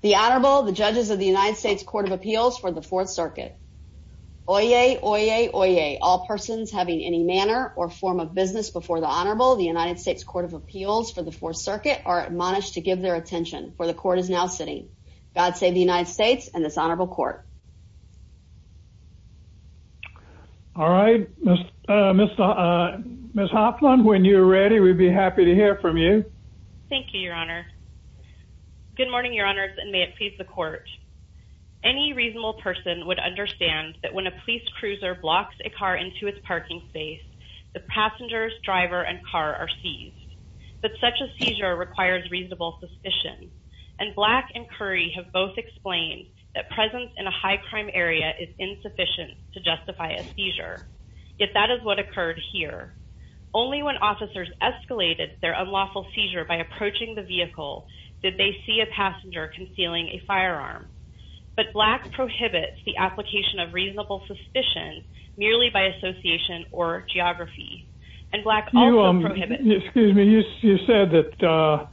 The Honorable, the judges of the United States Court of Appeals for the Fourth Circuit. Oyez, oyez, oyez, all persons having any manner or form of business before the Honorable, the United States Court of Appeals for the Fourth Circuit, are admonished to give their attention, for the Court is now sitting. God save the United States and this Honorable Court. All right, Ms. Hoffman, when you're ready, we'd be happy to hear from you. Thank you, Your Honor. Good morning, Your Honors, and may it please the Court. Any reasonable person would understand that when a police cruiser blocks a car into its parking space, the passenger, driver, and car are seized. But such a seizure requires reasonable suspicion, and Black and Curry have both explained that presence in a high-crime area is insufficient to justify a seizure. Yet that is what occurred here. Only when officers escalated their unlawful seizure by approaching the vehicle did they see a passenger concealing a firearm. But Black prohibits the application of reasonable suspicion merely by association or geography. Excuse me, you said that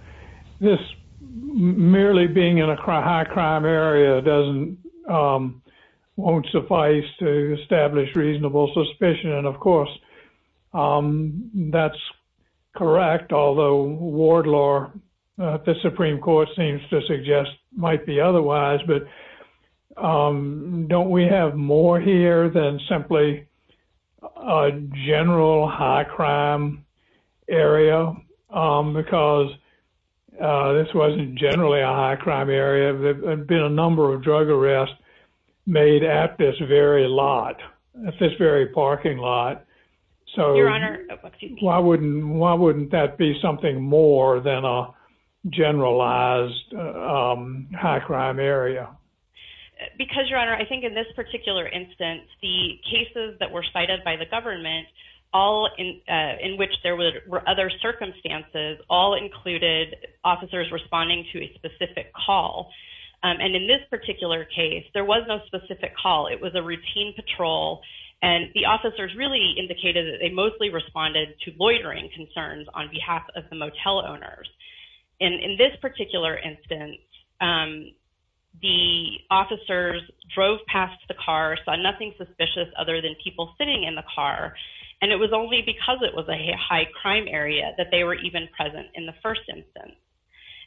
merely being in a high-crime area won't suffice to establish reasonable suspicion, and of course, that's correct, although ward law, the Supreme Court seems to suggest, might be otherwise. But don't we have more here than simply a general high-crime area? Because this wasn't generally a high-crime area. There have been a number of drug arrests made at this very lot, at this very parking lot. Why wouldn't that be something more than a generalized high-crime area? Because, Your Honor, I think in this particular instance, the cases that were cited by the government, all in which there were other circumstances, all included officers responding to a specific call. And in this particular case, there was no specific call. It was a routine patrol, and the officers really indicated that they mostly responded to loitering concerns on behalf of the motel owners. And in this particular instance, the officers drove past the car, saw nothing suspicious other than people sitting in the car, and it was only because it was a high-crime area that they were even present in the first instance.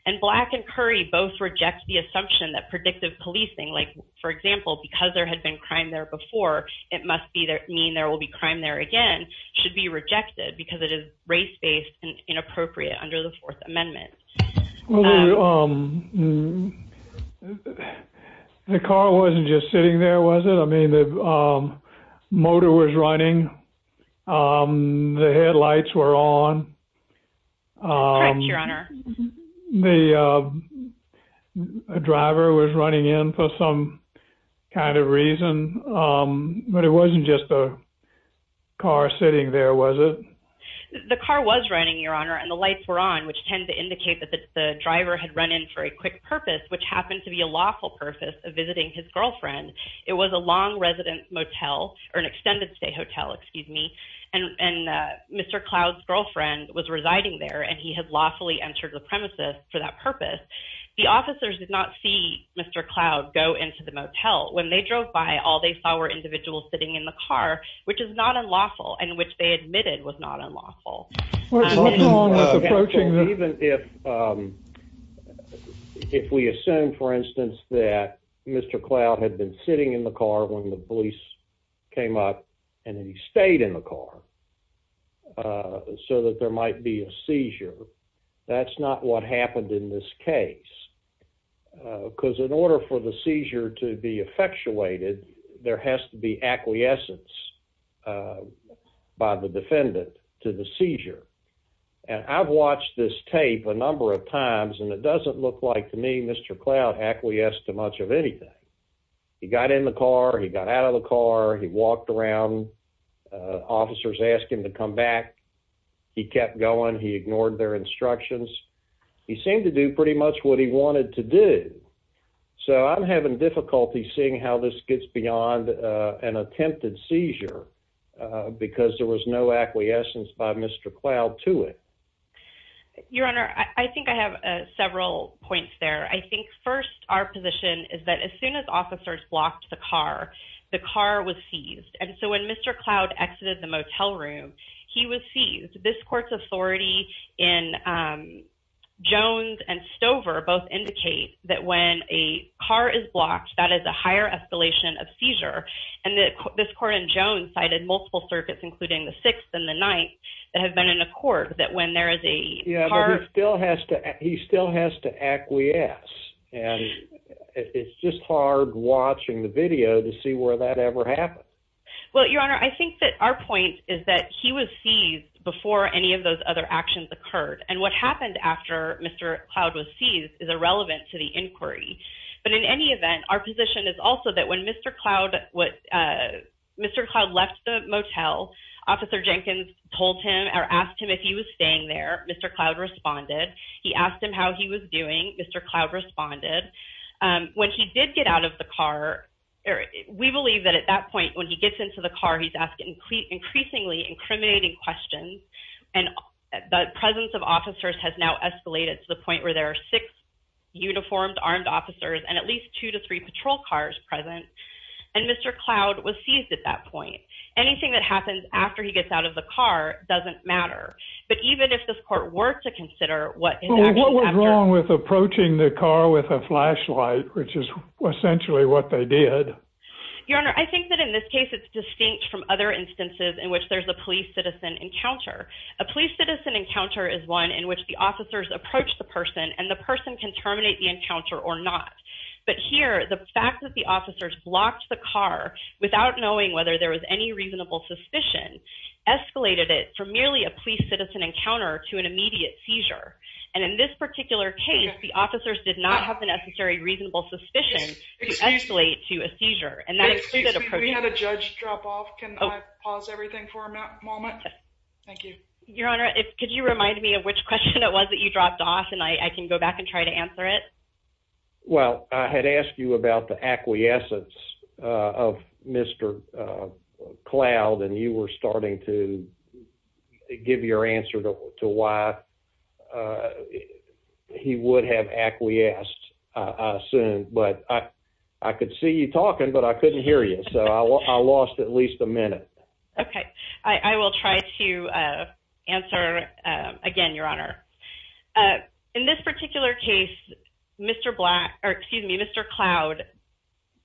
And Black and Curry both reject the assumption that predictive policing, like, for example, because there had been crime there before, it must mean there will be crime there again, should be rejected because it is race-based and inappropriate under the Fourth Amendment. The car wasn't just sitting there, was it? I mean, the motor was running. The headlights were on. Correct, Your Honor. The driver was running in for some kind of reason, but it wasn't just a car sitting there, was it? The car was running, Your Honor, and the lights were on, which tended to indicate that the driver had run in for a quick purpose, which happened to be a lawful purpose of visiting his girlfriend. It was a long residence motel, or an extended stay hotel, excuse me, and Mr. Cloud's girlfriend was residing there, and he had lawfully entered the premises for that purpose. The officers did not see Mr. Cloud go into the motel. When they drove by, all they saw were individuals sitting in the car, which is not unlawful, and which they admitted was not unlawful. Even if we assume, for instance, that Mr. Cloud had been sitting in the car when the police came up and he stayed in the car so that there might be a seizure, that's not what happened in this case. Because in order for the seizure to be effectuated, there has to be acquiescence by the defendant to the seizure. I've watched this tape a number of times, and it doesn't look like to me Mr. Cloud acquiesced to much of anything. He got in the car, he got out of the car, he walked around, officers asked him to come back, he kept going, he ignored their instructions. He seemed to do pretty much what he wanted to do. So I'm having difficulty seeing how this gets beyond an attempted seizure because there was no acquiescence by Mr. Cloud to it. Your Honor, I think I have several points there. I think first, our position is that as soon as officers blocked the car, the car was seized. And so when Mr. Cloud exited the motel room, he was seized. This court's authority in Jones and Stover both indicate that when a car is blocked, that is a higher escalation of seizure. And this court in Jones cited multiple circuits, including the Sixth and the Ninth, that have been in accord that when there is a car... Yeah, but he still has to acquiesce. And it's just hard watching the video to see where that ever happened. Well, Your Honor, I think that our point is that he was seized before any of those other actions occurred. And what happened after Mr. Cloud was seized is irrelevant to the inquiry. But in any event, our position is also that when Mr. Cloud left the motel, Officer Jenkins told him or asked him if he was staying there. Mr. Cloud responded. He asked him how he was doing. Mr. Cloud responded. When he did get out of the car, we believe that at that point, when he gets into the car, he's asking increasingly incriminating questions. And the presence of officers has now escalated to the point where there are six uniformed armed officers and at least two to three patrol cars present. And Mr. Cloud was seized at that point. Anything that happens after he gets out of the car doesn't matter. But even if this court were to consider what was wrong with approaching the car with a flashlight, which is essentially what they did. Your Honor, I think that in this case, it's distinct from other instances in which there's a police citizen encounter. A police citizen encounter is one in which the officers approach the person and the person can terminate the encounter or not. But here, the fact that the officers blocked the car without knowing whether there was any reasonable suspicion escalated it from merely a police citizen encounter to an immediate seizure. And in this particular case, the officers did not have the necessary reasonable suspicion to escalate to a seizure. Excuse me, we had a judge drop off. Can I pause everything for a moment? Thank you. Your Honor, could you remind me of which question it was that you dropped off and I can go back and try to answer it? Well, I had asked you about the acquiescence of Mr. Cloud, and you were starting to give your answer to why he would have acquiesced soon. But I could see you talking, but I couldn't hear you, so I lost at least a minute. Okay, I will try to answer again, Your Honor. In this particular case, Mr. Cloud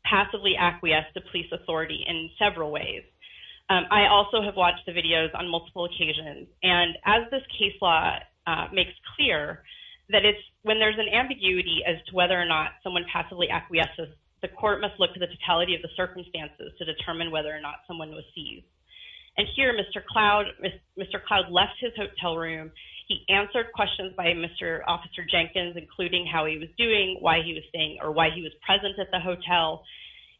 passively acquiesced to police authority in several ways. I also have watched the videos on multiple occasions, and as this case law makes clear, that when there's an ambiguity as to whether or not someone passively acquiesces, the court must look to the totality of the circumstances to determine whether or not someone was seized. And here, Mr. Cloud left his hotel room. He answered questions by Mr. Officer Jenkins, including how he was doing, why he was staying, or why he was present at the hotel.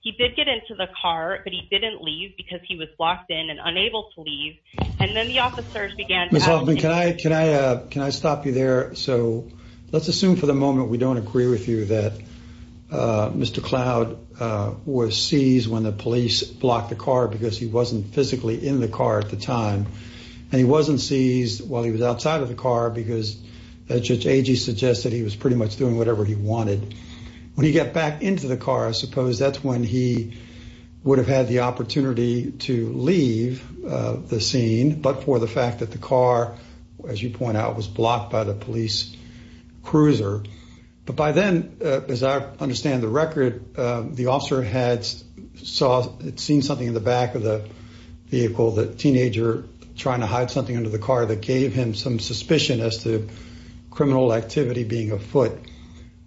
He did get into the car, but he didn't leave because he was locked in and unable to leave. And then the officers began to… Ms. Hoffman, can I stop you there? So let's assume for the moment we don't agree with you that Mr. Cloud was seized when the police blocked the car because he wasn't physically in the car at the time. And he wasn't seized while he was outside of the car because, as Judge Agee suggested, he was pretty much doing whatever he wanted. When he got back into the car, I suppose that's when he would have had the opportunity to leave the scene, but for the fact that the car, as you point out, was blocked by the police cruiser. But by then, as I understand the record, the officer had seen something in the back of the vehicle, the teenager trying to hide something under the car that gave him some suspicion as to criminal activity being afoot.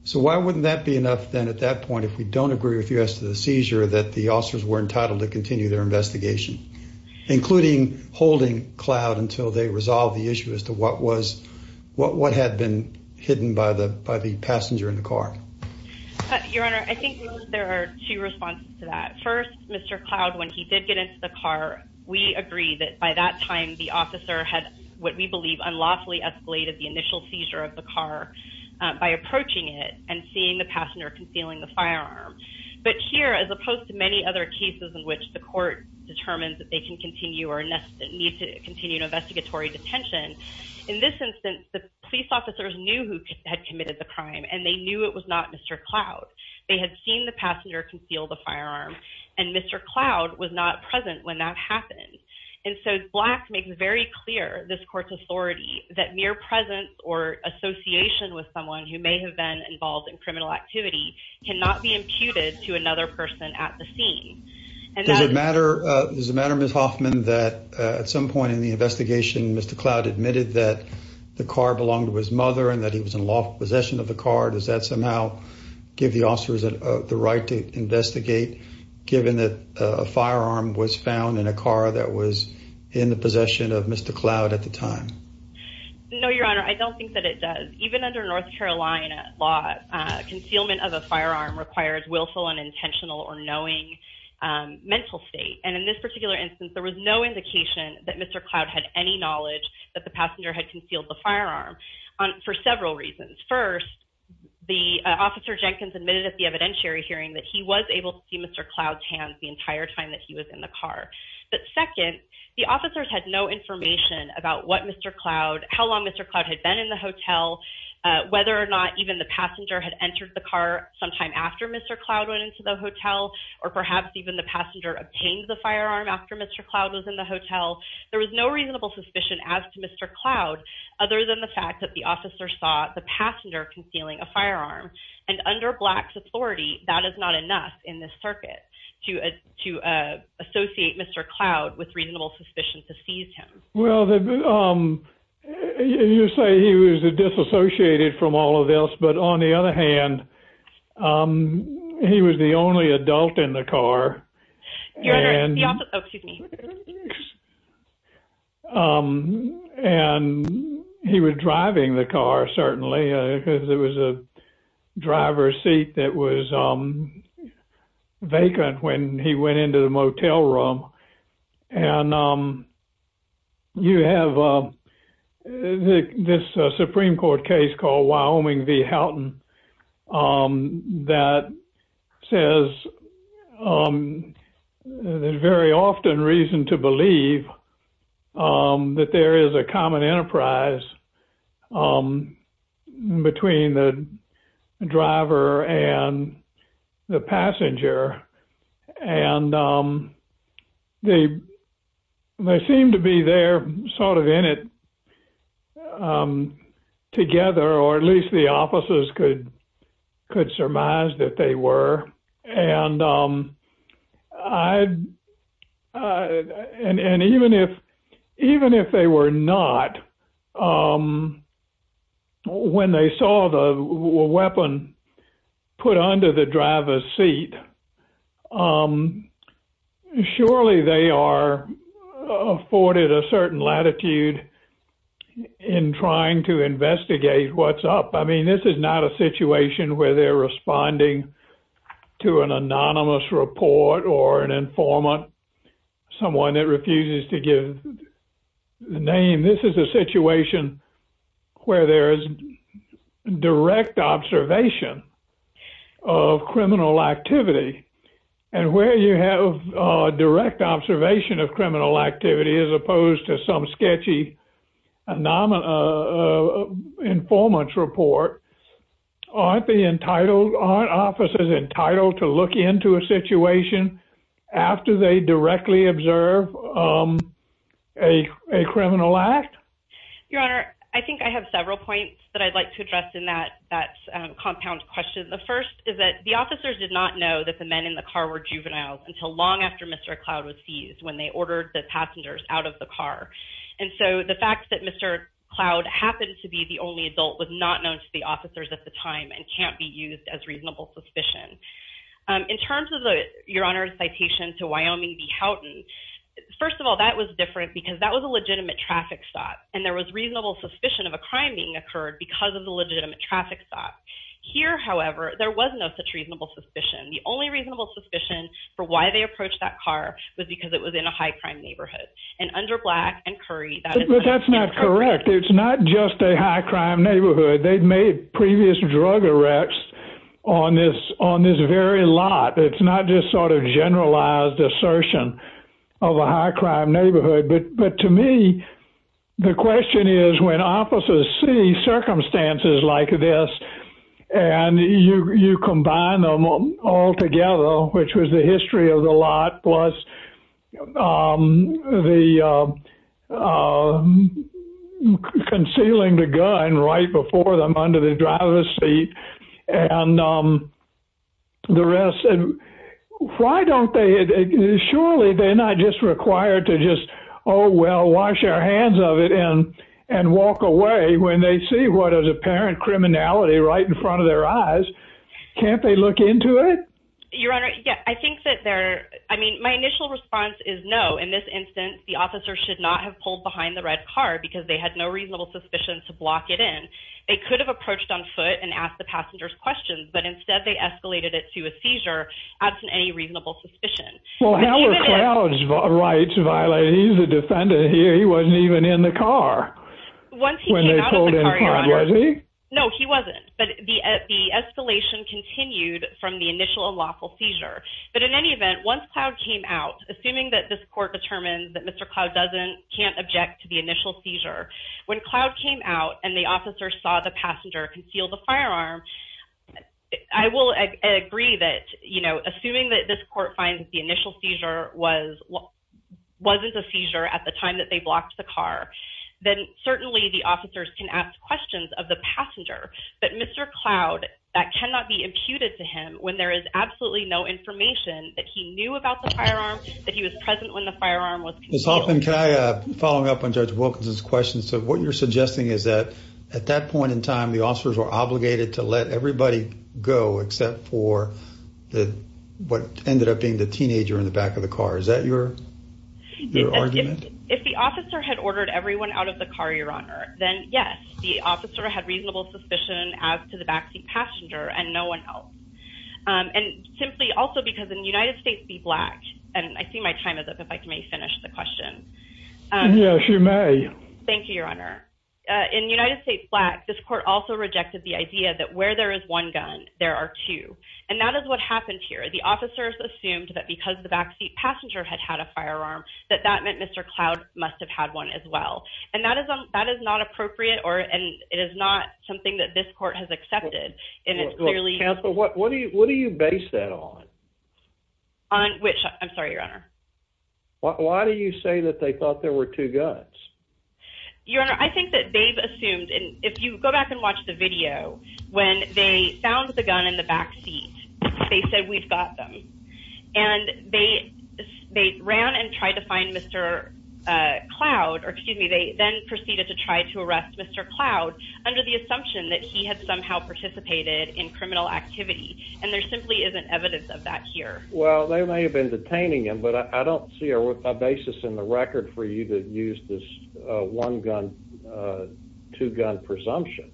So why wouldn't that be enough then at that point, if we don't agree with you as to the seizure, that the officers were entitled to continue their investigation, including holding Cloud until they resolved the issue as to what had been hidden by the passenger in the car? Your Honor, I think there are two responses to that. First, Mr. Cloud, when he did get into the car, we agree that by that time the officer had what we believe unlawfully escalated the initial seizure of the car by approaching it and seeing the passenger concealing the firearm. But here, as opposed to many other cases in which the court determines that they can continue or need to continue an investigatory detention, in this instance, the police officers knew who had committed the crime, and they knew it was not Mr. Cloud. They had seen the passenger conceal the firearm, and Mr. Cloud was not present when that happened. And so Black makes it very clear, this court's authority, that mere presence or association with someone who may have been involved in criminal activity cannot be imputed to another person at the scene. Does it matter, Ms. Hoffman, that at some point in the investigation, Mr. Cloud admitted that the car belonged to his mother and that he was in lawful possession of the car? Does that somehow give the officers the right to investigate, given that a firearm was found in a car that was in the possession of Mr. Cloud at the time? No, Your Honor, I don't think that it does. Even under North Carolina law, concealment of a firearm requires willful and intentional or knowing mental state. And in this particular instance, there was no indication that Mr. Cloud had any knowledge that the passenger had concealed the firearm for several reasons. First, the officer Jenkins admitted at the evidentiary hearing that he was able to see Mr. Cloud's hands the entire time that he was in the car. But second, the officers had no information about what Mr. Cloud, how long Mr. Cloud had been in the hotel, whether or not even the passenger had entered the car sometime after Mr. Cloud went into the hotel, or perhaps even the passenger obtained the firearm after Mr. Cloud was in the hotel. There was no reasonable suspicion as to Mr. Cloud, other than the fact that the officer saw the passenger concealing a firearm. And under Black's authority, that is not enough in this circuit to associate Mr. Cloud with reasonable suspicion to seize him. Well, you say he was disassociated from all of this, but on the other hand, he was the only adult in the car. And he was driving the car, certainly, because it was a driver's seat that was vacant when he went into the motel room. And you have this Supreme Court case called Wyoming v. Houghton that says there's very often reason to believe that there is a common enterprise between the driver and the passenger. And they seem to be there sort of in it together, or at least the officers could surmise that they were. And even if they were not, when they saw the weapon put under the driver's seat, surely they are afforded a certain latitude in trying to investigate what's up. I mean, this is not a situation where they're responding to an anonymous report or an informant, someone that refuses to give the name. I mean, this is a situation where there is direct observation of criminal activity, and where you have direct observation of criminal activity as opposed to some sketchy informant's report, aren't officers entitled to look into a situation after they directly observe a criminal act? Your Honor, I think I have several points that I'd like to address in that compound question. The first is that the officers did not know that the men in the car were juveniles until long after Mr. Cloud was seized when they ordered the passengers out of the car. And so the fact that Mr. Cloud happened to be the only adult was not known to the officers at the time and can't be used as reasonable suspicion. In terms of Your Honor's citation to Wyoming v. Houghton, first of all, that was different because that was a legitimate traffic stop. And there was reasonable suspicion of a crime being occurred because of the legitimate traffic stop. Here, however, there was no such reasonable suspicion. The only reasonable suspicion for why they approached that car was because it was in a high-crime neighborhood. And under Black and Curry, that is not correct. But that's not correct. It's not just a high-crime neighborhood. They'd made previous drug arrests on this very lot. It's not just sort of generalized assertion of a high-crime neighborhood. But to me, the question is when officers see circumstances like this and you combine them all together, which was the history of the lot plus the concealing the gun right before them under the driver's seat and the rest, why don't they, surely they're not just required to just, oh, well, wash our hands of it and walk away when they see what is apparent criminality right in front of their eyes. Can't they look into it? Your Honor, yeah, I think that they're, I mean, my initial response is no. In this instance, the officer should not have pulled behind the red car because they had no reasonable suspicion to block it in. They could have approached on foot and asked the passengers questions, but instead they escalated it to a seizure absent any reasonable suspicion. Well, how are Cloud's rights violated? He's a defendant here. He wasn't even in the car. Once he came out of the car, Your Honor. Was he? No, he wasn't. But the escalation continued from the initial unlawful seizure. But in any event, once Cloud came out, assuming that this court determined that Mr. Cloud can't object to the initial seizure, when Cloud came out and the officer saw the passenger conceal the firearm, I will agree that, you know, assuming that this court finds that the initial seizure wasn't a seizure at the time that they blocked the car, then certainly the officers can ask questions of the passenger. But Mr. Cloud, that cannot be imputed to him when there is absolutely no information that he knew about the firearm, that he was present when the firearm was concealed. Ms. Hoffman, can I follow up on Judge Wilkinson's question? So what you're suggesting is that at that point in time, the officers were obligated to let everybody go except for what ended up being the teenager in the back of the car. Is that your argument? If the officer had ordered everyone out of the car, Your Honor, then yes, the officer had reasonable suspicion as to the backseat passenger and no one else. And simply also because in United States v. Black, and I see my time is up, if I may finish the question. Yes, you may. Thank you, Your Honor. In United States v. Black, this court also rejected the idea that where there is one gun, there are two. And that is what happened here. The officers assumed that because the backseat passenger had had a firearm, that that meant Mr. Cloud must have had one as well. And that is not appropriate, and it is not something that this court has accepted. What do you base that on? I'm sorry, Your Honor. Why do you say that they thought there were two guns? Your Honor, I think that they've assumed, and if you go back and watch the video, when they found the gun in the backseat, they said, we've got them. And they ran and tried to find Mr. Cloud, or excuse me, they then proceeded to try to arrest Mr. Cloud under the assumption that he had somehow participated in criminal activity. And there simply isn't evidence of that here. Well, they may have been detaining him, but I don't see a basis in the record for you to use this one-gun, two-gun presumption.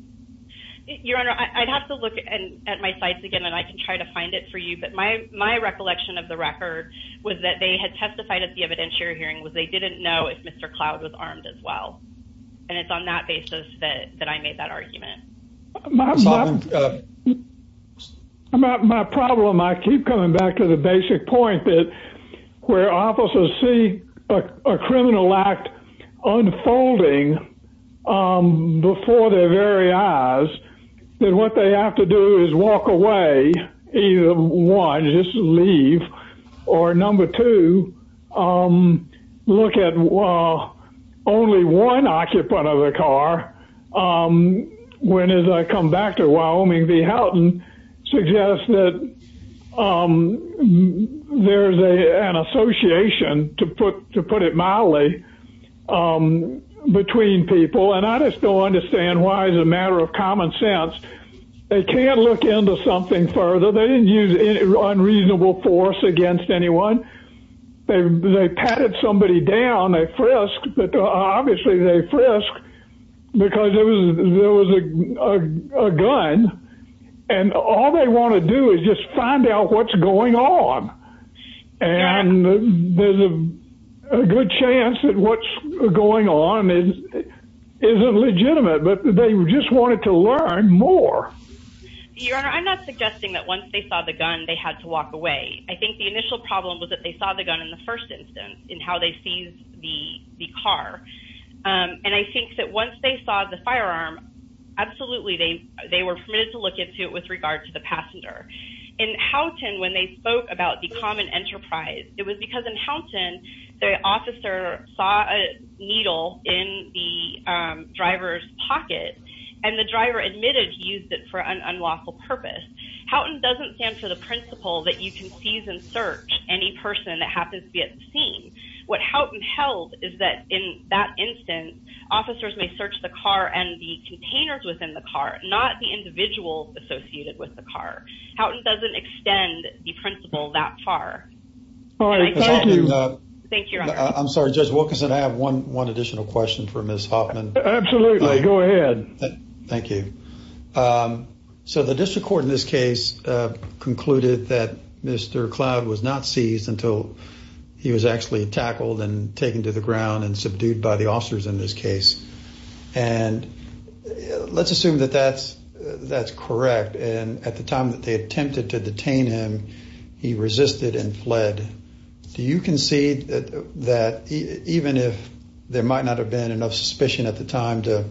Your Honor, I'd have to look at my sites again, and I can try to find it for you. But my recollection of the record was that they had testified at the evidentiary hearing was they didn't know if Mr. Cloud was armed as well. And it's on that basis that I made that argument. My problem, I keep coming back to the basic point that where officers see a criminal act unfolding before their very eyes, then what they have to do is walk away. Either one, just leave. Or number two, look at only one occupant of the car, when as I come back to Wyoming v. Houghton, suggests that there's an association, to put it mildly, between people. And I just don't understand why it's a matter of common sense. They can't look into something further. They didn't use unreasonable force against anyone. They patted somebody down, they frisked, but obviously they frisked because there was a gun. And all they want to do is just find out what's going on. And there's a good chance that what's going on isn't legitimate, but they just wanted to learn more. Your Honor, I'm not suggesting that once they saw the gun, they had to walk away. I think the initial problem was that they saw the gun in the first instance, in how they seized the car. And I think that once they saw the firearm, absolutely they were permitted to look into it with regard to the passenger. In Houghton, when they spoke about the common enterprise, it was because in Houghton, the officer saw a needle in the driver's pocket, and the driver admitted he used it for an unlawful purpose. Houghton doesn't stand for the principle that you can seize and search any person that happens to be at the scene. What Houghton held is that in that instance, officers may search the car and the containers within the car, not the individuals associated with the car. Houghton doesn't extend the principle that far. All right, thank you. Thank you, Your Honor. I'm sorry, Judge Wilkinson, I have one additional question for Ms. Hoffman. Absolutely, go ahead. Thank you. So the district court in this case concluded that Mr. Cloud was not seized until he was actually tackled and taken to the ground and subdued by the officers in this case. And let's assume that that's correct, and at the time that they attempted to detain him, he resisted and fled. Do you concede that even if there might not have been enough suspicion at the time to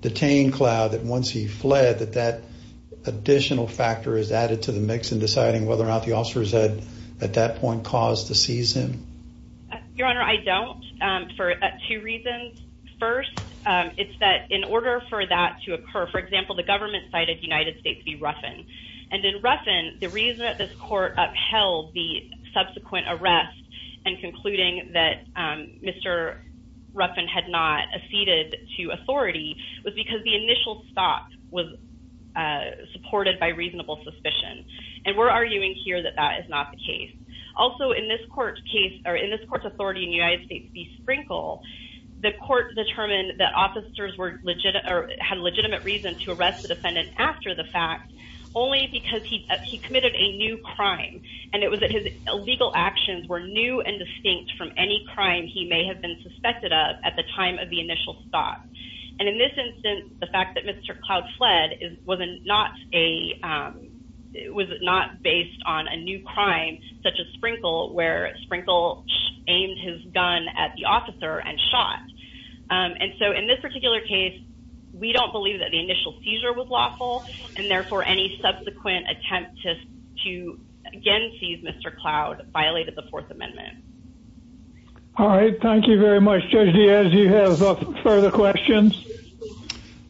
detain Cloud, that once he fled, that that additional factor is added to the mix in deciding whether or not the officers had at that point caused to seize him? Your Honor, I don't, for two reasons. First, it's that in order for that to occur, for example, the government cited United States v. Ruffin. And in Ruffin, the reason that this court upheld the subsequent arrest and concluding that Mr. Ruffin had not acceded to authority was because the initial stop was supported by reasonable suspicion. And we're arguing here that that is not the case. Also, in this court's authority in United States v. Sprinkle, the court determined that officers had legitimate reason to arrest the defendant after the fact only because he committed a new crime. And it was that his illegal actions were new and distinct from any crime he may have been suspected of at the time of the initial stop. And in this instance, the fact that Mr. Cloud fled was not based on a new crime such as Sprinkle, where Sprinkle aimed his gun at the officer and shot. And so in this particular case, we don't believe that the initial seizure was lawful, and therefore any subsequent attempt to again seize Mr. Cloud violated the Fourth Amendment. All right. Thank you very much, Judge Diaz. Do you have further questions?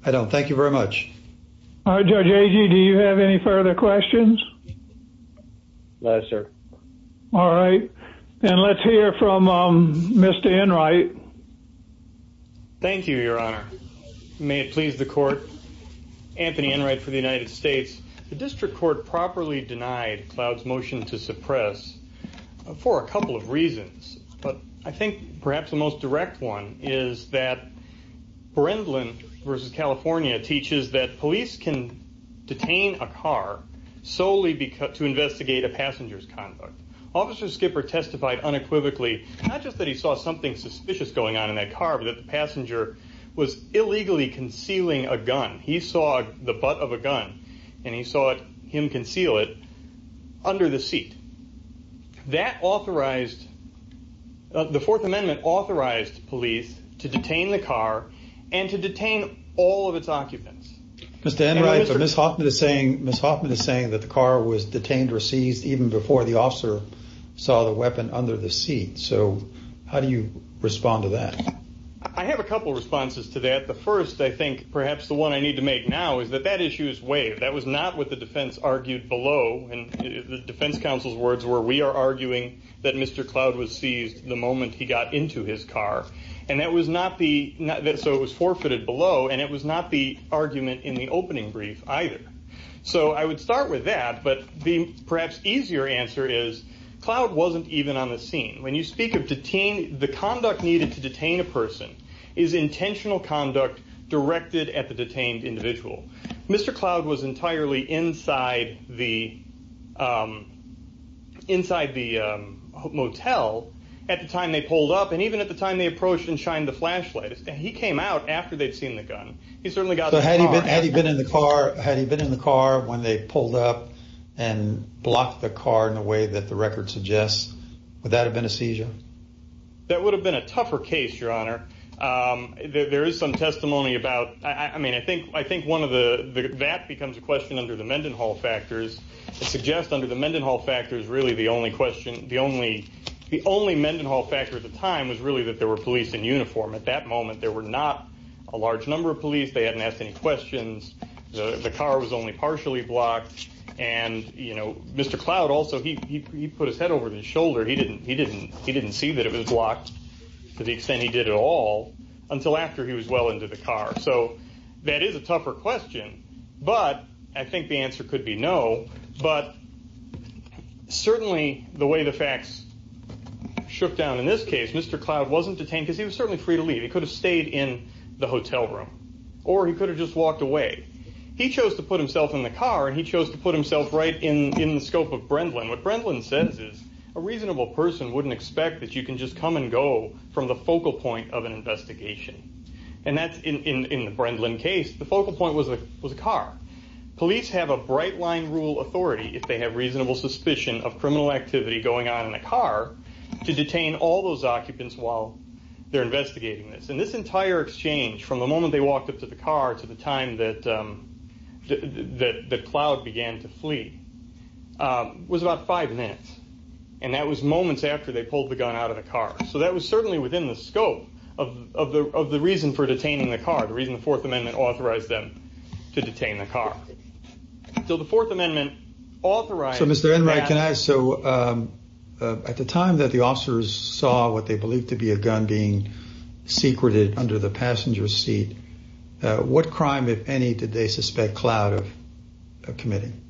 I don't. Thank you very much. All right, Judge Agee, do you have any further questions? No, sir. All right. And let's hear from Mr. Enright. Anthony Enright for the United States. The district court properly denied Cloud's motion to suppress for a couple of reasons. But I think perhaps the most direct one is that Brendlin v. California teaches that police can detain a car solely to investigate a passenger's conduct. Officer Skipper testified unequivocally not just that he saw something suspicious going on in that car, but that the passenger was illegally concealing a gun. He saw the butt of a gun, and he saw him conceal it under the seat. That authorized – the Fourth Amendment authorized police to detain the car and to detain all of its occupants. Mr. Enright, but Ms. Hoffman is saying that the car was detained or seized even before the officer saw the weapon under the seat. So how do you respond to that? I have a couple of responses to that. The first, I think, perhaps the one I need to make now, is that that issue is waived. That was not what the defense argued below. And the defense counsel's words were, we are arguing that Mr. Cloud was seized the moment he got into his car. And that was not the – so it was forfeited below, and it was not the argument in the opening brief either. So I would start with that, but the perhaps easier answer is Cloud wasn't even on the scene. When you speak of – the conduct needed to detain a person is intentional conduct directed at the detained individual. Mr. Cloud was entirely inside the motel at the time they pulled up, and even at the time they approached and shined the flashlight. He came out after they'd seen the gun. He certainly got in the car. Had he been in the car when they pulled up and blocked the car in the way that the record suggests, would that have been a seizure? That would have been a tougher case, Your Honor. There is some testimony about – I mean, I think one of the – that becomes a question under the Mendenhall factors. It suggests under the Mendenhall factors, really the only question – the only Mendenhall factor at the time was really that there were police in uniform. At that moment, there were not a large number of police. They hadn't asked any questions. The car was only partially blocked. And, you know, Mr. Cloud also – he put his head over his shoulder. He didn't see that it was blocked to the extent he did at all until after he was well into the car. So that is a tougher question, but I think the answer could be no. But certainly the way the facts shook down in this case, Mr. Cloud wasn't detained because he was certainly free to leave. He could have stayed in the hotel room, or he could have just walked away. He chose to put himself in the car, and he chose to put himself right in the scope of Brendlin. What Brendlin says is a reasonable person wouldn't expect that you can just come and go from the focal point of an investigation. And that's – in the Brendlin case, the focal point was the car. Police have a bright-line rule authority, if they have reasonable suspicion of criminal activity going on in a car, to detain all those occupants while they're investigating this. And this entire exchange, from the moment they walked up to the car to the time that Cloud began to flee, was about five minutes. And that was moments after they pulled the gun out of the car. So that was certainly within the scope of the reason for detaining the car, the reason the Fourth Amendment authorized them to detain the car. So the Fourth Amendment authorized – So, Mr. Enright, can I – so at the time that the officers saw what they believed to be a gun being secreted under the passenger seat, what crime, if any, did they suspect Cloud of committing?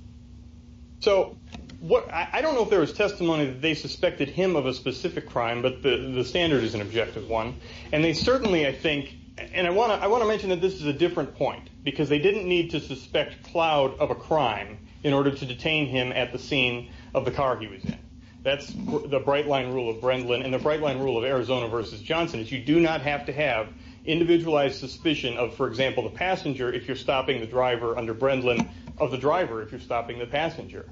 So what – I don't know if there was testimony that they suspected him of a specific crime, but the standard is an objective one. And they certainly, I think – and I want to mention that this is a different point, because they didn't need to suspect Cloud of a crime in order to detain him at the scene of the car he was in. That's the bright-line rule of Brendlin and the bright-line rule of Arizona v. Johnson, is you do not have to have individualized suspicion of, for example, the passenger, if you're stopping the driver under Brendlin, of the driver if you're stopping the passenger.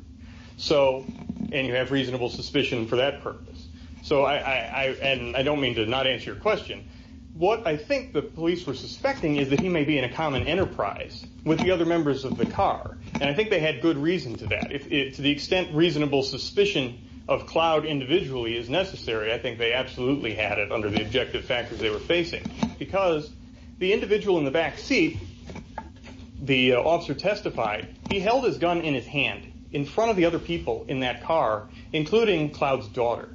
So – and you have reasonable suspicion for that purpose. So I – and I don't mean to not answer your question. What I think the police were suspecting is that he may be in a common enterprise with the other members of the car. And I think they had good reason to that. To the extent reasonable suspicion of Cloud individually is necessary, I think they absolutely had it under the objective factors they were facing. Because the individual in the back seat, the officer testified, he held his gun in his hand in front of the other people in that car, including Cloud's daughter.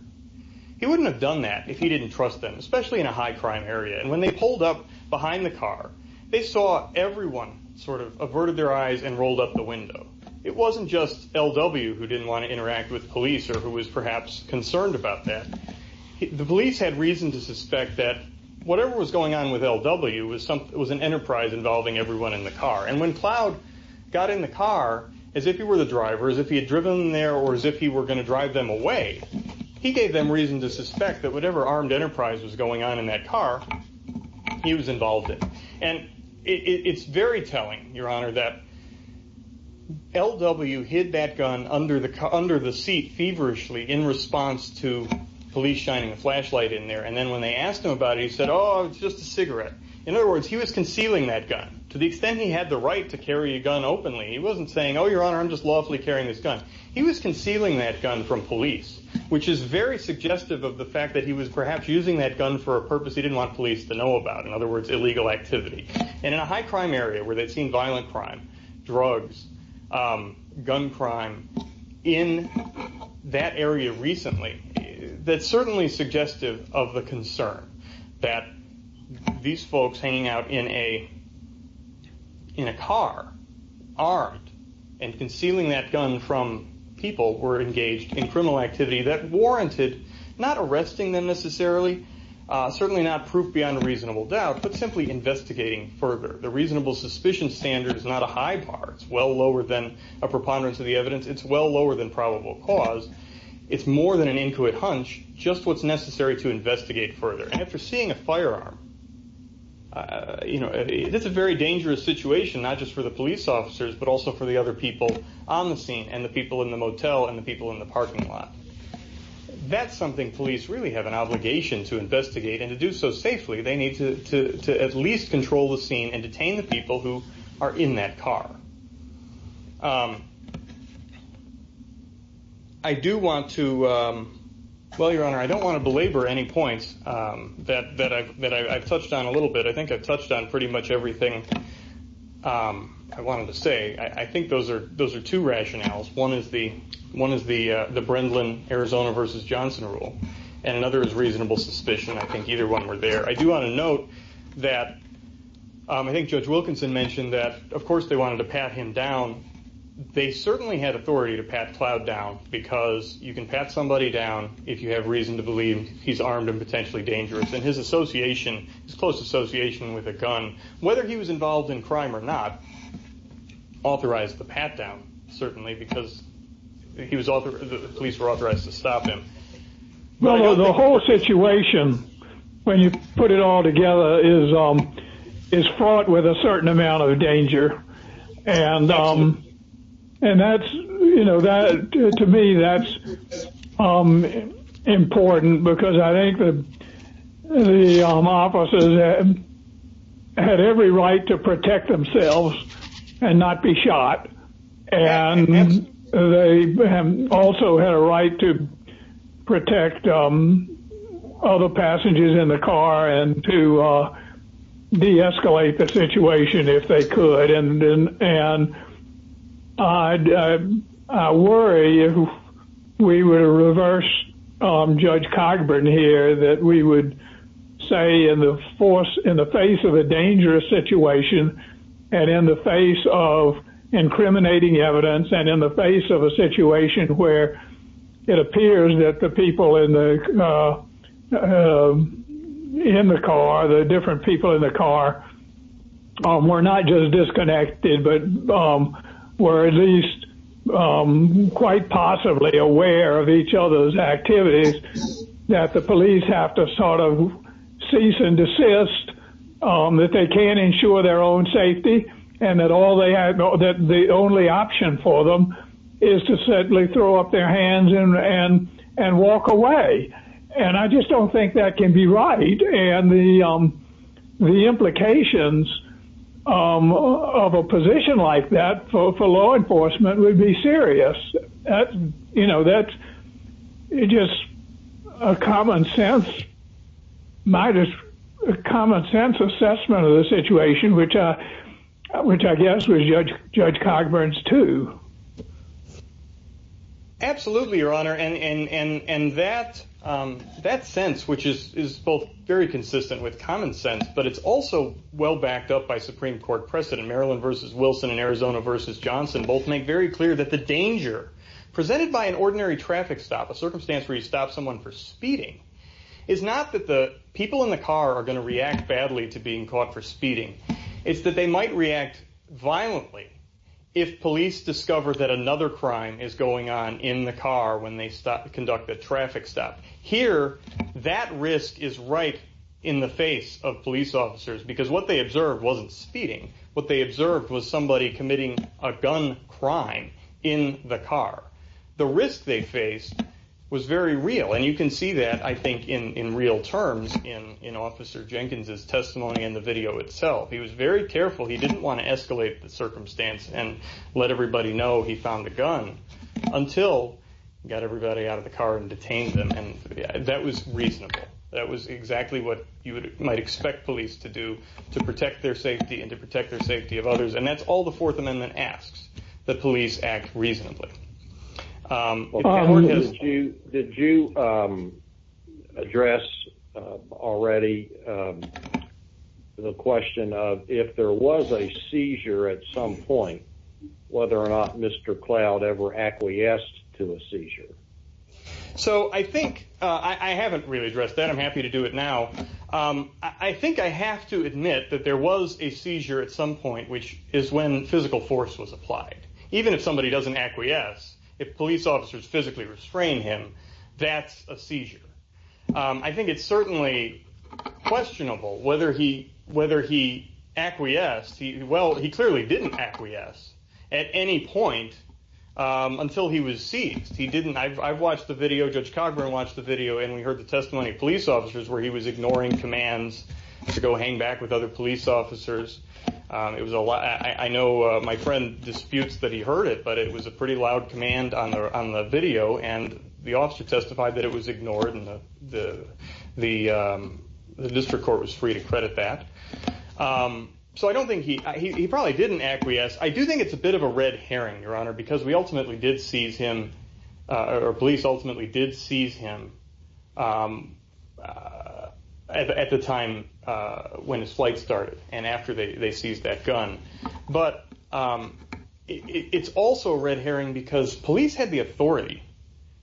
He wouldn't have done that if he didn't trust them, especially in a high-crime area. And when they pulled up behind the car, they saw everyone sort of averted their eyes and rolled up the window. It wasn't just L.W. who didn't want to interact with the police or who was perhaps concerned about that. The police had reason to suspect that whatever was going on with L.W. was an enterprise involving everyone in the car. And when Cloud got in the car as if he were the driver, as if he had driven them there or as if he were going to drive them away, he gave them reason to suspect that whatever armed enterprise was going on in that car, he was involved in. And it's very telling, Your Honor, that L.W. hid that gun under the seat feverishly in response to police shining a flashlight in there. And then when they asked him about it, he said, oh, it's just a cigarette. In other words, he was concealing that gun. To the extent he had the right to carry a gun openly, he wasn't saying, oh, Your Honor, I'm just lawfully carrying this gun. He was concealing that gun from police, which is very suggestive of the fact that he was perhaps using that gun for a purpose he didn't want police to know about, in other words, illegal activity. And in a high crime area where they've seen violent crime, drugs, gun crime in that area recently, that's certainly suggestive of the concern that these folks hanging out in a car, armed, and concealing that gun from people who were engaged in criminal activity that warranted not arresting them necessarily, certainly not proof beyond a reasonable doubt, but simply investigating further. The reasonable suspicion standard is not a high bar. It's well lower than a preponderance of the evidence. It's well lower than probable cause. It's more than an intuit hunch, just what's necessary to investigate further. And if you're seeing a firearm, it's a very dangerous situation, not just for the police officers, but also for the other people on the scene and the people in the motel and the people in the parking lot. That's something police really have an obligation to investigate. And to do so safely, they need to at least control the scene and detain the people who are in that car. Well, Your Honor, I don't want to belabor any points that I've touched on a little bit. I think I've touched on pretty much everything I wanted to say. I think those are two rationales. One is the Brindlin, Arizona v. Johnson rule, and another is reasonable suspicion. I think either one were there. I do want to note that I think Judge Wilkinson mentioned that, of course, they wanted to pat him down. They certainly had authority to pat Cloud down because you can pat somebody down if you have reason to believe he's armed and potentially dangerous. And his association, his close association with a gun, whether he was involved in crime or not, authorized the pat down, certainly, because the police were authorized to stop him. Well, the whole situation, when you put it all together, is fraught with a certain amount of danger. And that's, you know, to me, that's important because I think the officers had every right to protect themselves and not be shot. And they also had a right to protect other passengers in the car and to deescalate the situation if they could. And I worry if we were to reverse Judge Cogburn here, that we would say in the face of a dangerous situation and in the face of incriminating evidence and in the face of a situation where it appears that the people in the car, the different people in the car, were not just disconnected, but were at least quite possibly aware of each other's activities, that the police have to sort of cease and desist, that they can't ensure their own safety, and that the only option for them is to certainly throw up their hands and walk away. And I just don't think that can be right, and the implications of a position like that for law enforcement would be serious. You know, that's just a common sense assessment of the situation, which I guess was Judge Cogburn's too. Absolutely, Your Honor, and that sense, which is both very consistent with common sense, but it's also well backed up by Supreme Court precedent. Maryland v. Wilson and Arizona v. Johnson both make very clear that the danger presented by an ordinary traffic stop, a circumstance where you stop someone for speeding, is not that the people in the car are going to react badly to being caught for speeding. It's that they might react violently if police discover that another crime is going on in the car when they conduct a traffic stop. Here, that risk is right in the face of police officers, because what they observed wasn't speeding. What they observed was somebody committing a gun crime in the car. The risk they faced was very real, and you can see that, I think, in real terms in Officer Jenkins' testimony in the video itself. He was very careful. He didn't want to escalate the circumstance and let everybody know he found a gun until he got everybody out of the car and detained them. And that was reasonable. That was exactly what you might expect police to do to protect their safety and to protect the safety of others. And that's all the Fourth Amendment asks that police act reasonably. Did you address already the question of if there was a seizure at some point, whether or not Mr. Cloud ever acquiesced to a seizure? So I think I haven't really addressed that. I'm happy to do it now. I think I have to admit that there was a seizure at some point, which is when physical force was applied. Even if somebody doesn't acquiesce, if police officers physically restrain him, that's a seizure. I think it's certainly questionable whether he acquiesced. Well, he clearly didn't acquiesce at any point until he was seized. I've watched the video. Judge Cogburn watched the video, and we heard the testimony of police officers where he was ignoring commands to go hang back with other police officers. I know my friend disputes that he heard it, but it was a pretty loud command on the video. And the officer testified that it was ignored, and the district court was free to credit that. So I don't think he – he probably didn't acquiesce. I do think it's a bit of a red herring, Your Honor, because we ultimately did seize him – or police ultimately did seize him at the time when his flight started and after they seized that gun. But it's also a red herring because police had the authority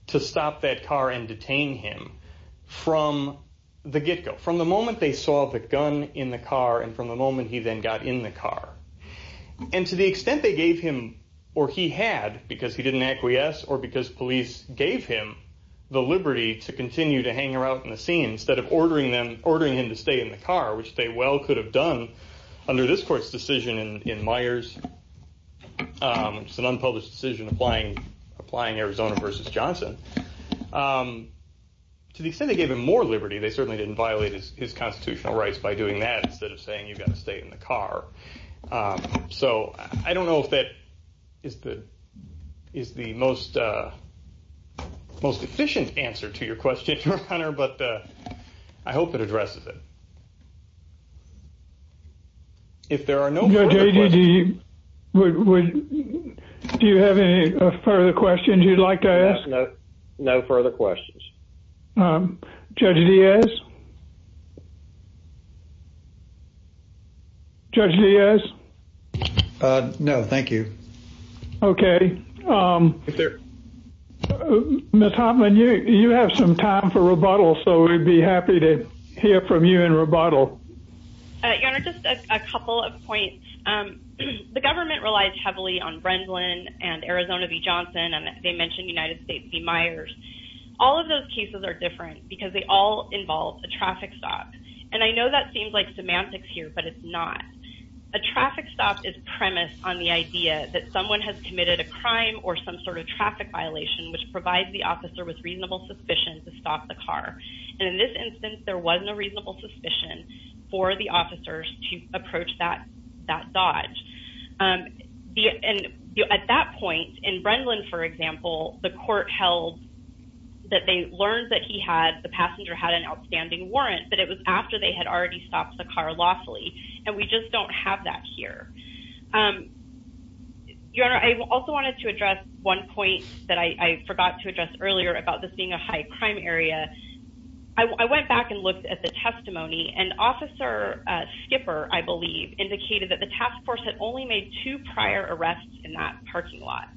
to stop that car and detain him from the get-go, from the moment they saw the gun in the car and from the moment he then got in the car. And to the extent they gave him – or he had, because he didn't acquiesce or because police gave him the liberty to continue to hang around in the scene instead of ordering him to stay in the car, which they well could have done under this court's decision in Myers, which is an unpublished decision applying Arizona v. Johnson. To the extent they gave him more liberty, they certainly didn't violate his constitutional rights by doing that instead of saying you've got to stay in the car. So I don't know if that is the most efficient answer to your question, Your Honor, but I hope it addresses it. If there are no further questions… Judge, do you have any further questions you'd like to ask? No further questions. Judge Diaz? Judge Diaz? No, thank you. Okay. Ms. Hoffman, you have some time for rebuttal, so we'd be happy to hear from you in rebuttal. Your Honor, just a couple of points. The government relies heavily on Brendlin and Arizona v. Johnson, and they mentioned United States v. Myers. All of those cases are different because they all involve a traffic stop. And I know that seems like semantics here, but it's not. A traffic stop is premised on the idea that someone has committed a crime or some sort of traffic violation which provides the officer with reasonable suspicion to stop the car. And in this instance, there wasn't a reasonable suspicion for the officers to approach that dodge. And at that point, in Brendlin, for example, the court held that they learned that he had – the passenger had an outstanding warrant, but it was after they had already stopped the car lawfully. And we just don't have that here. Your Honor, I also wanted to address one point that I forgot to address earlier about this being a high-crime area. I went back and looked at the testimony, and Officer Skipper, I believe, indicated that the task force had only made two prior arrests in that parking lot.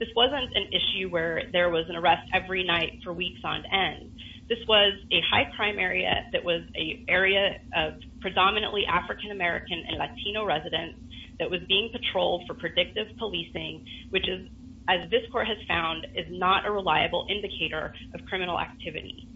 This wasn't an issue where there was an arrest every night for weeks on end. This was a high-crime area that was an area of predominantly African-American and Latino residents that was being patrolled for predictive policing, which, as this court has found, is not a reliable indicator of criminal activity.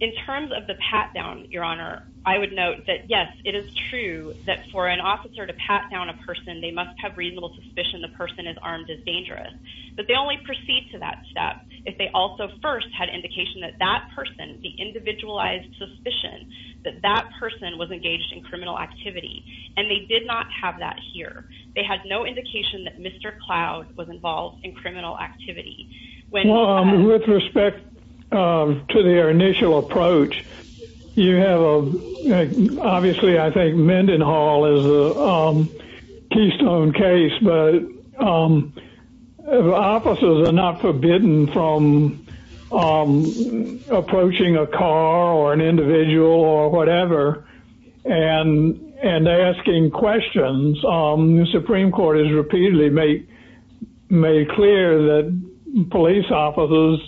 In terms of the pat-down, Your Honor, I would note that, yes, it is true that for an officer to pat down a person, they must have reasonable suspicion the person is armed as dangerous. But they only proceed to that step if they also first had indication that that person, the individualized suspicion that that person was engaged in criminal activity. And they did not have that here. They had no indication that Mr. Cloud was involved in criminal activity. With respect to their initial approach, you have a—obviously, I think Mendenhall is a keystone case, but officers are not forbidden from approaching a car or an individual or whatever and asking questions. The Supreme Court has repeatedly made clear that police officers,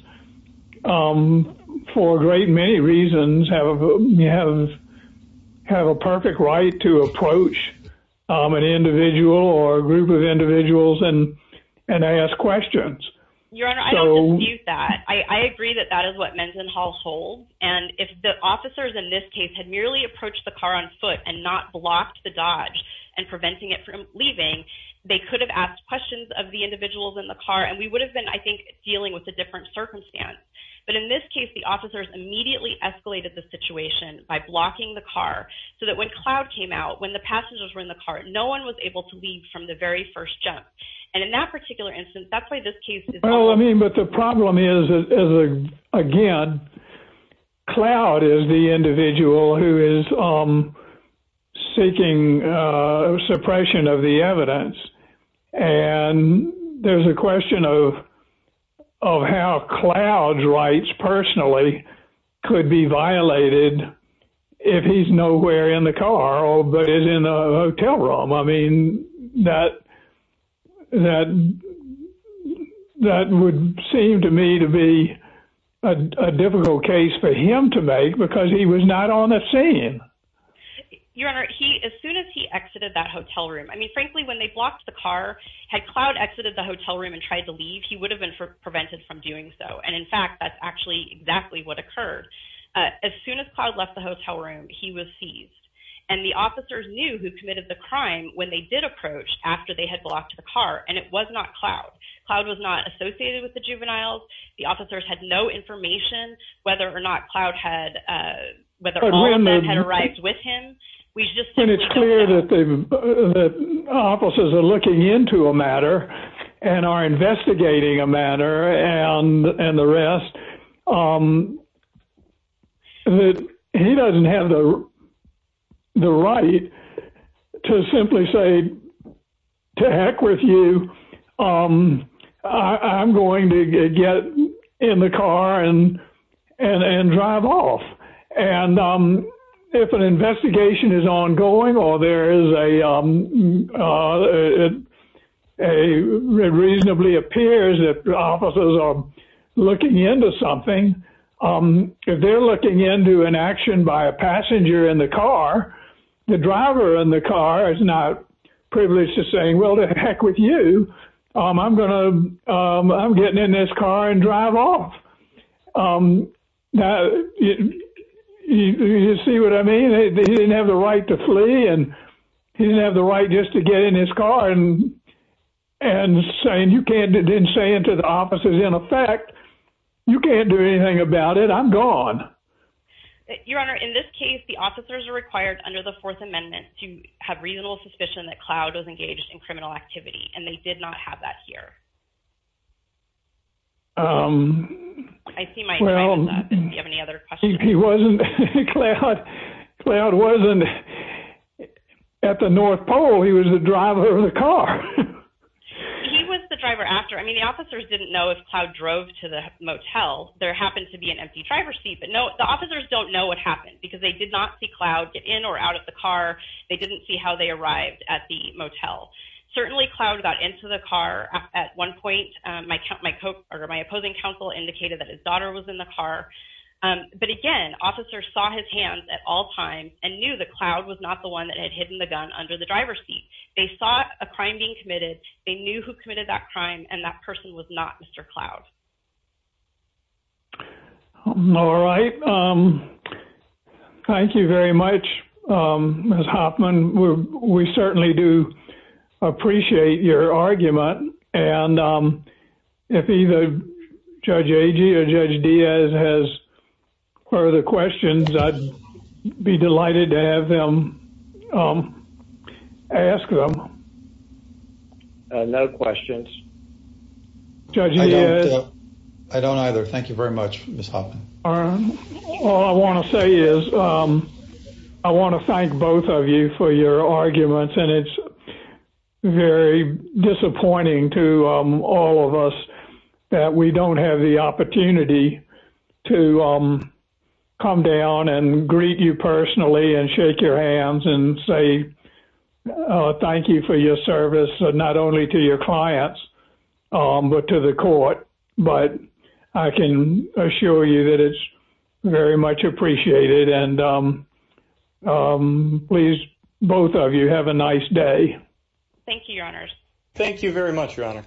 for a great many reasons, have a perfect right to approach an individual or a group of individuals and ask questions. Your Honor, I don't dispute that. I agree that that is what Mendenhall holds. And if the officers in this case had merely approached the car on foot and not blocked the dodge and preventing it from leaving, they could have asked questions of the individuals in the car, and we would have been, I think, dealing with a different circumstance. But in this case, the officers immediately escalated the situation by blocking the car so that when Cloud came out, when the passengers were in the car, no one was able to leave from the very first jump. And in that particular instance, that's why this case is— Well, I mean, but the problem is, again, Cloud is the individual who is seeking suppression of the evidence. And there's a question of how Cloud's rights personally could be violated if he's nowhere in the car or is in a hotel room. I mean, that would seem to me to be a difficult case for him to make because he was not on the scene. Your Honor, as soon as he exited that hotel room—I mean, frankly, when they blocked the car, had Cloud exited the hotel room and tried to leave, he would have been prevented from doing so. And in fact, that's actually exactly what occurred. As soon as Cloud left the hotel room, he was seized. And the officers knew who committed the crime when they did approach after they had blocked the car, and it was not Cloud. Cloud was not associated with the juveniles. The officers had no information whether or not Cloud had—whether all of that had arrived with him. And it's clear that the officers are looking into a matter and are investigating a matter and the rest. He doesn't have the right to simply say, to heck with you, I'm going to get in the car and drive off. And if an investigation is ongoing or there is a—it reasonably appears that the officers are looking into something, if they're looking into an action by a passenger in the car, the driver in the car is not privileged to say, well, to heck with you, I'm going to—I'm getting in this car and drive off. Now, you see what I mean? He didn't have the right to flee, and he didn't have the right just to get in his car and saying you can't—didn't say it to the officers. In effect, you can't do anything about it. I'm gone. Your Honor, in this case, the officers are required under the Fourth Amendment to have reasonable suspicion that Cloud was engaged in criminal activity, and they did not have that here. I see my point of that. Do you have any other questions? He wasn't—Cloud wasn't at the North Pole. He was the driver of the car. He was the driver after. I mean, the officers didn't know if Cloud drove to the motel. There happened to be an empty driver's seat, but the officers don't know what happened because they did not see Cloud get in or out of the car. They didn't see how they arrived at the motel. Certainly, Cloud got into the car. At one point, my opposing counsel indicated that his daughter was in the car. But again, officers saw his hands at all times and knew that Cloud was not the one that had hidden the gun under the driver's seat. They saw a crime being committed. They knew who committed that crime, and that person was not Mr. Cloud. All right. Thank you very much, Ms. Hoffman. We certainly do appreciate your argument. And if either Judge Agee or Judge Diaz has further questions, I'd be delighted to have them ask them. No questions. Judge Diaz? I don't either. Thank you very much, Ms. Hoffman. All I want to say is I want to thank both of you for your arguments. And it's very disappointing to all of us that we don't have the opportunity to come down and greet you personally and shake your hands and say thank you for your service, not only to your clients, but to the court. But I can assure you that it's very much appreciated. And please, both of you, have a nice day. Thank you, Your Honors. Thank you very much, Your Honor.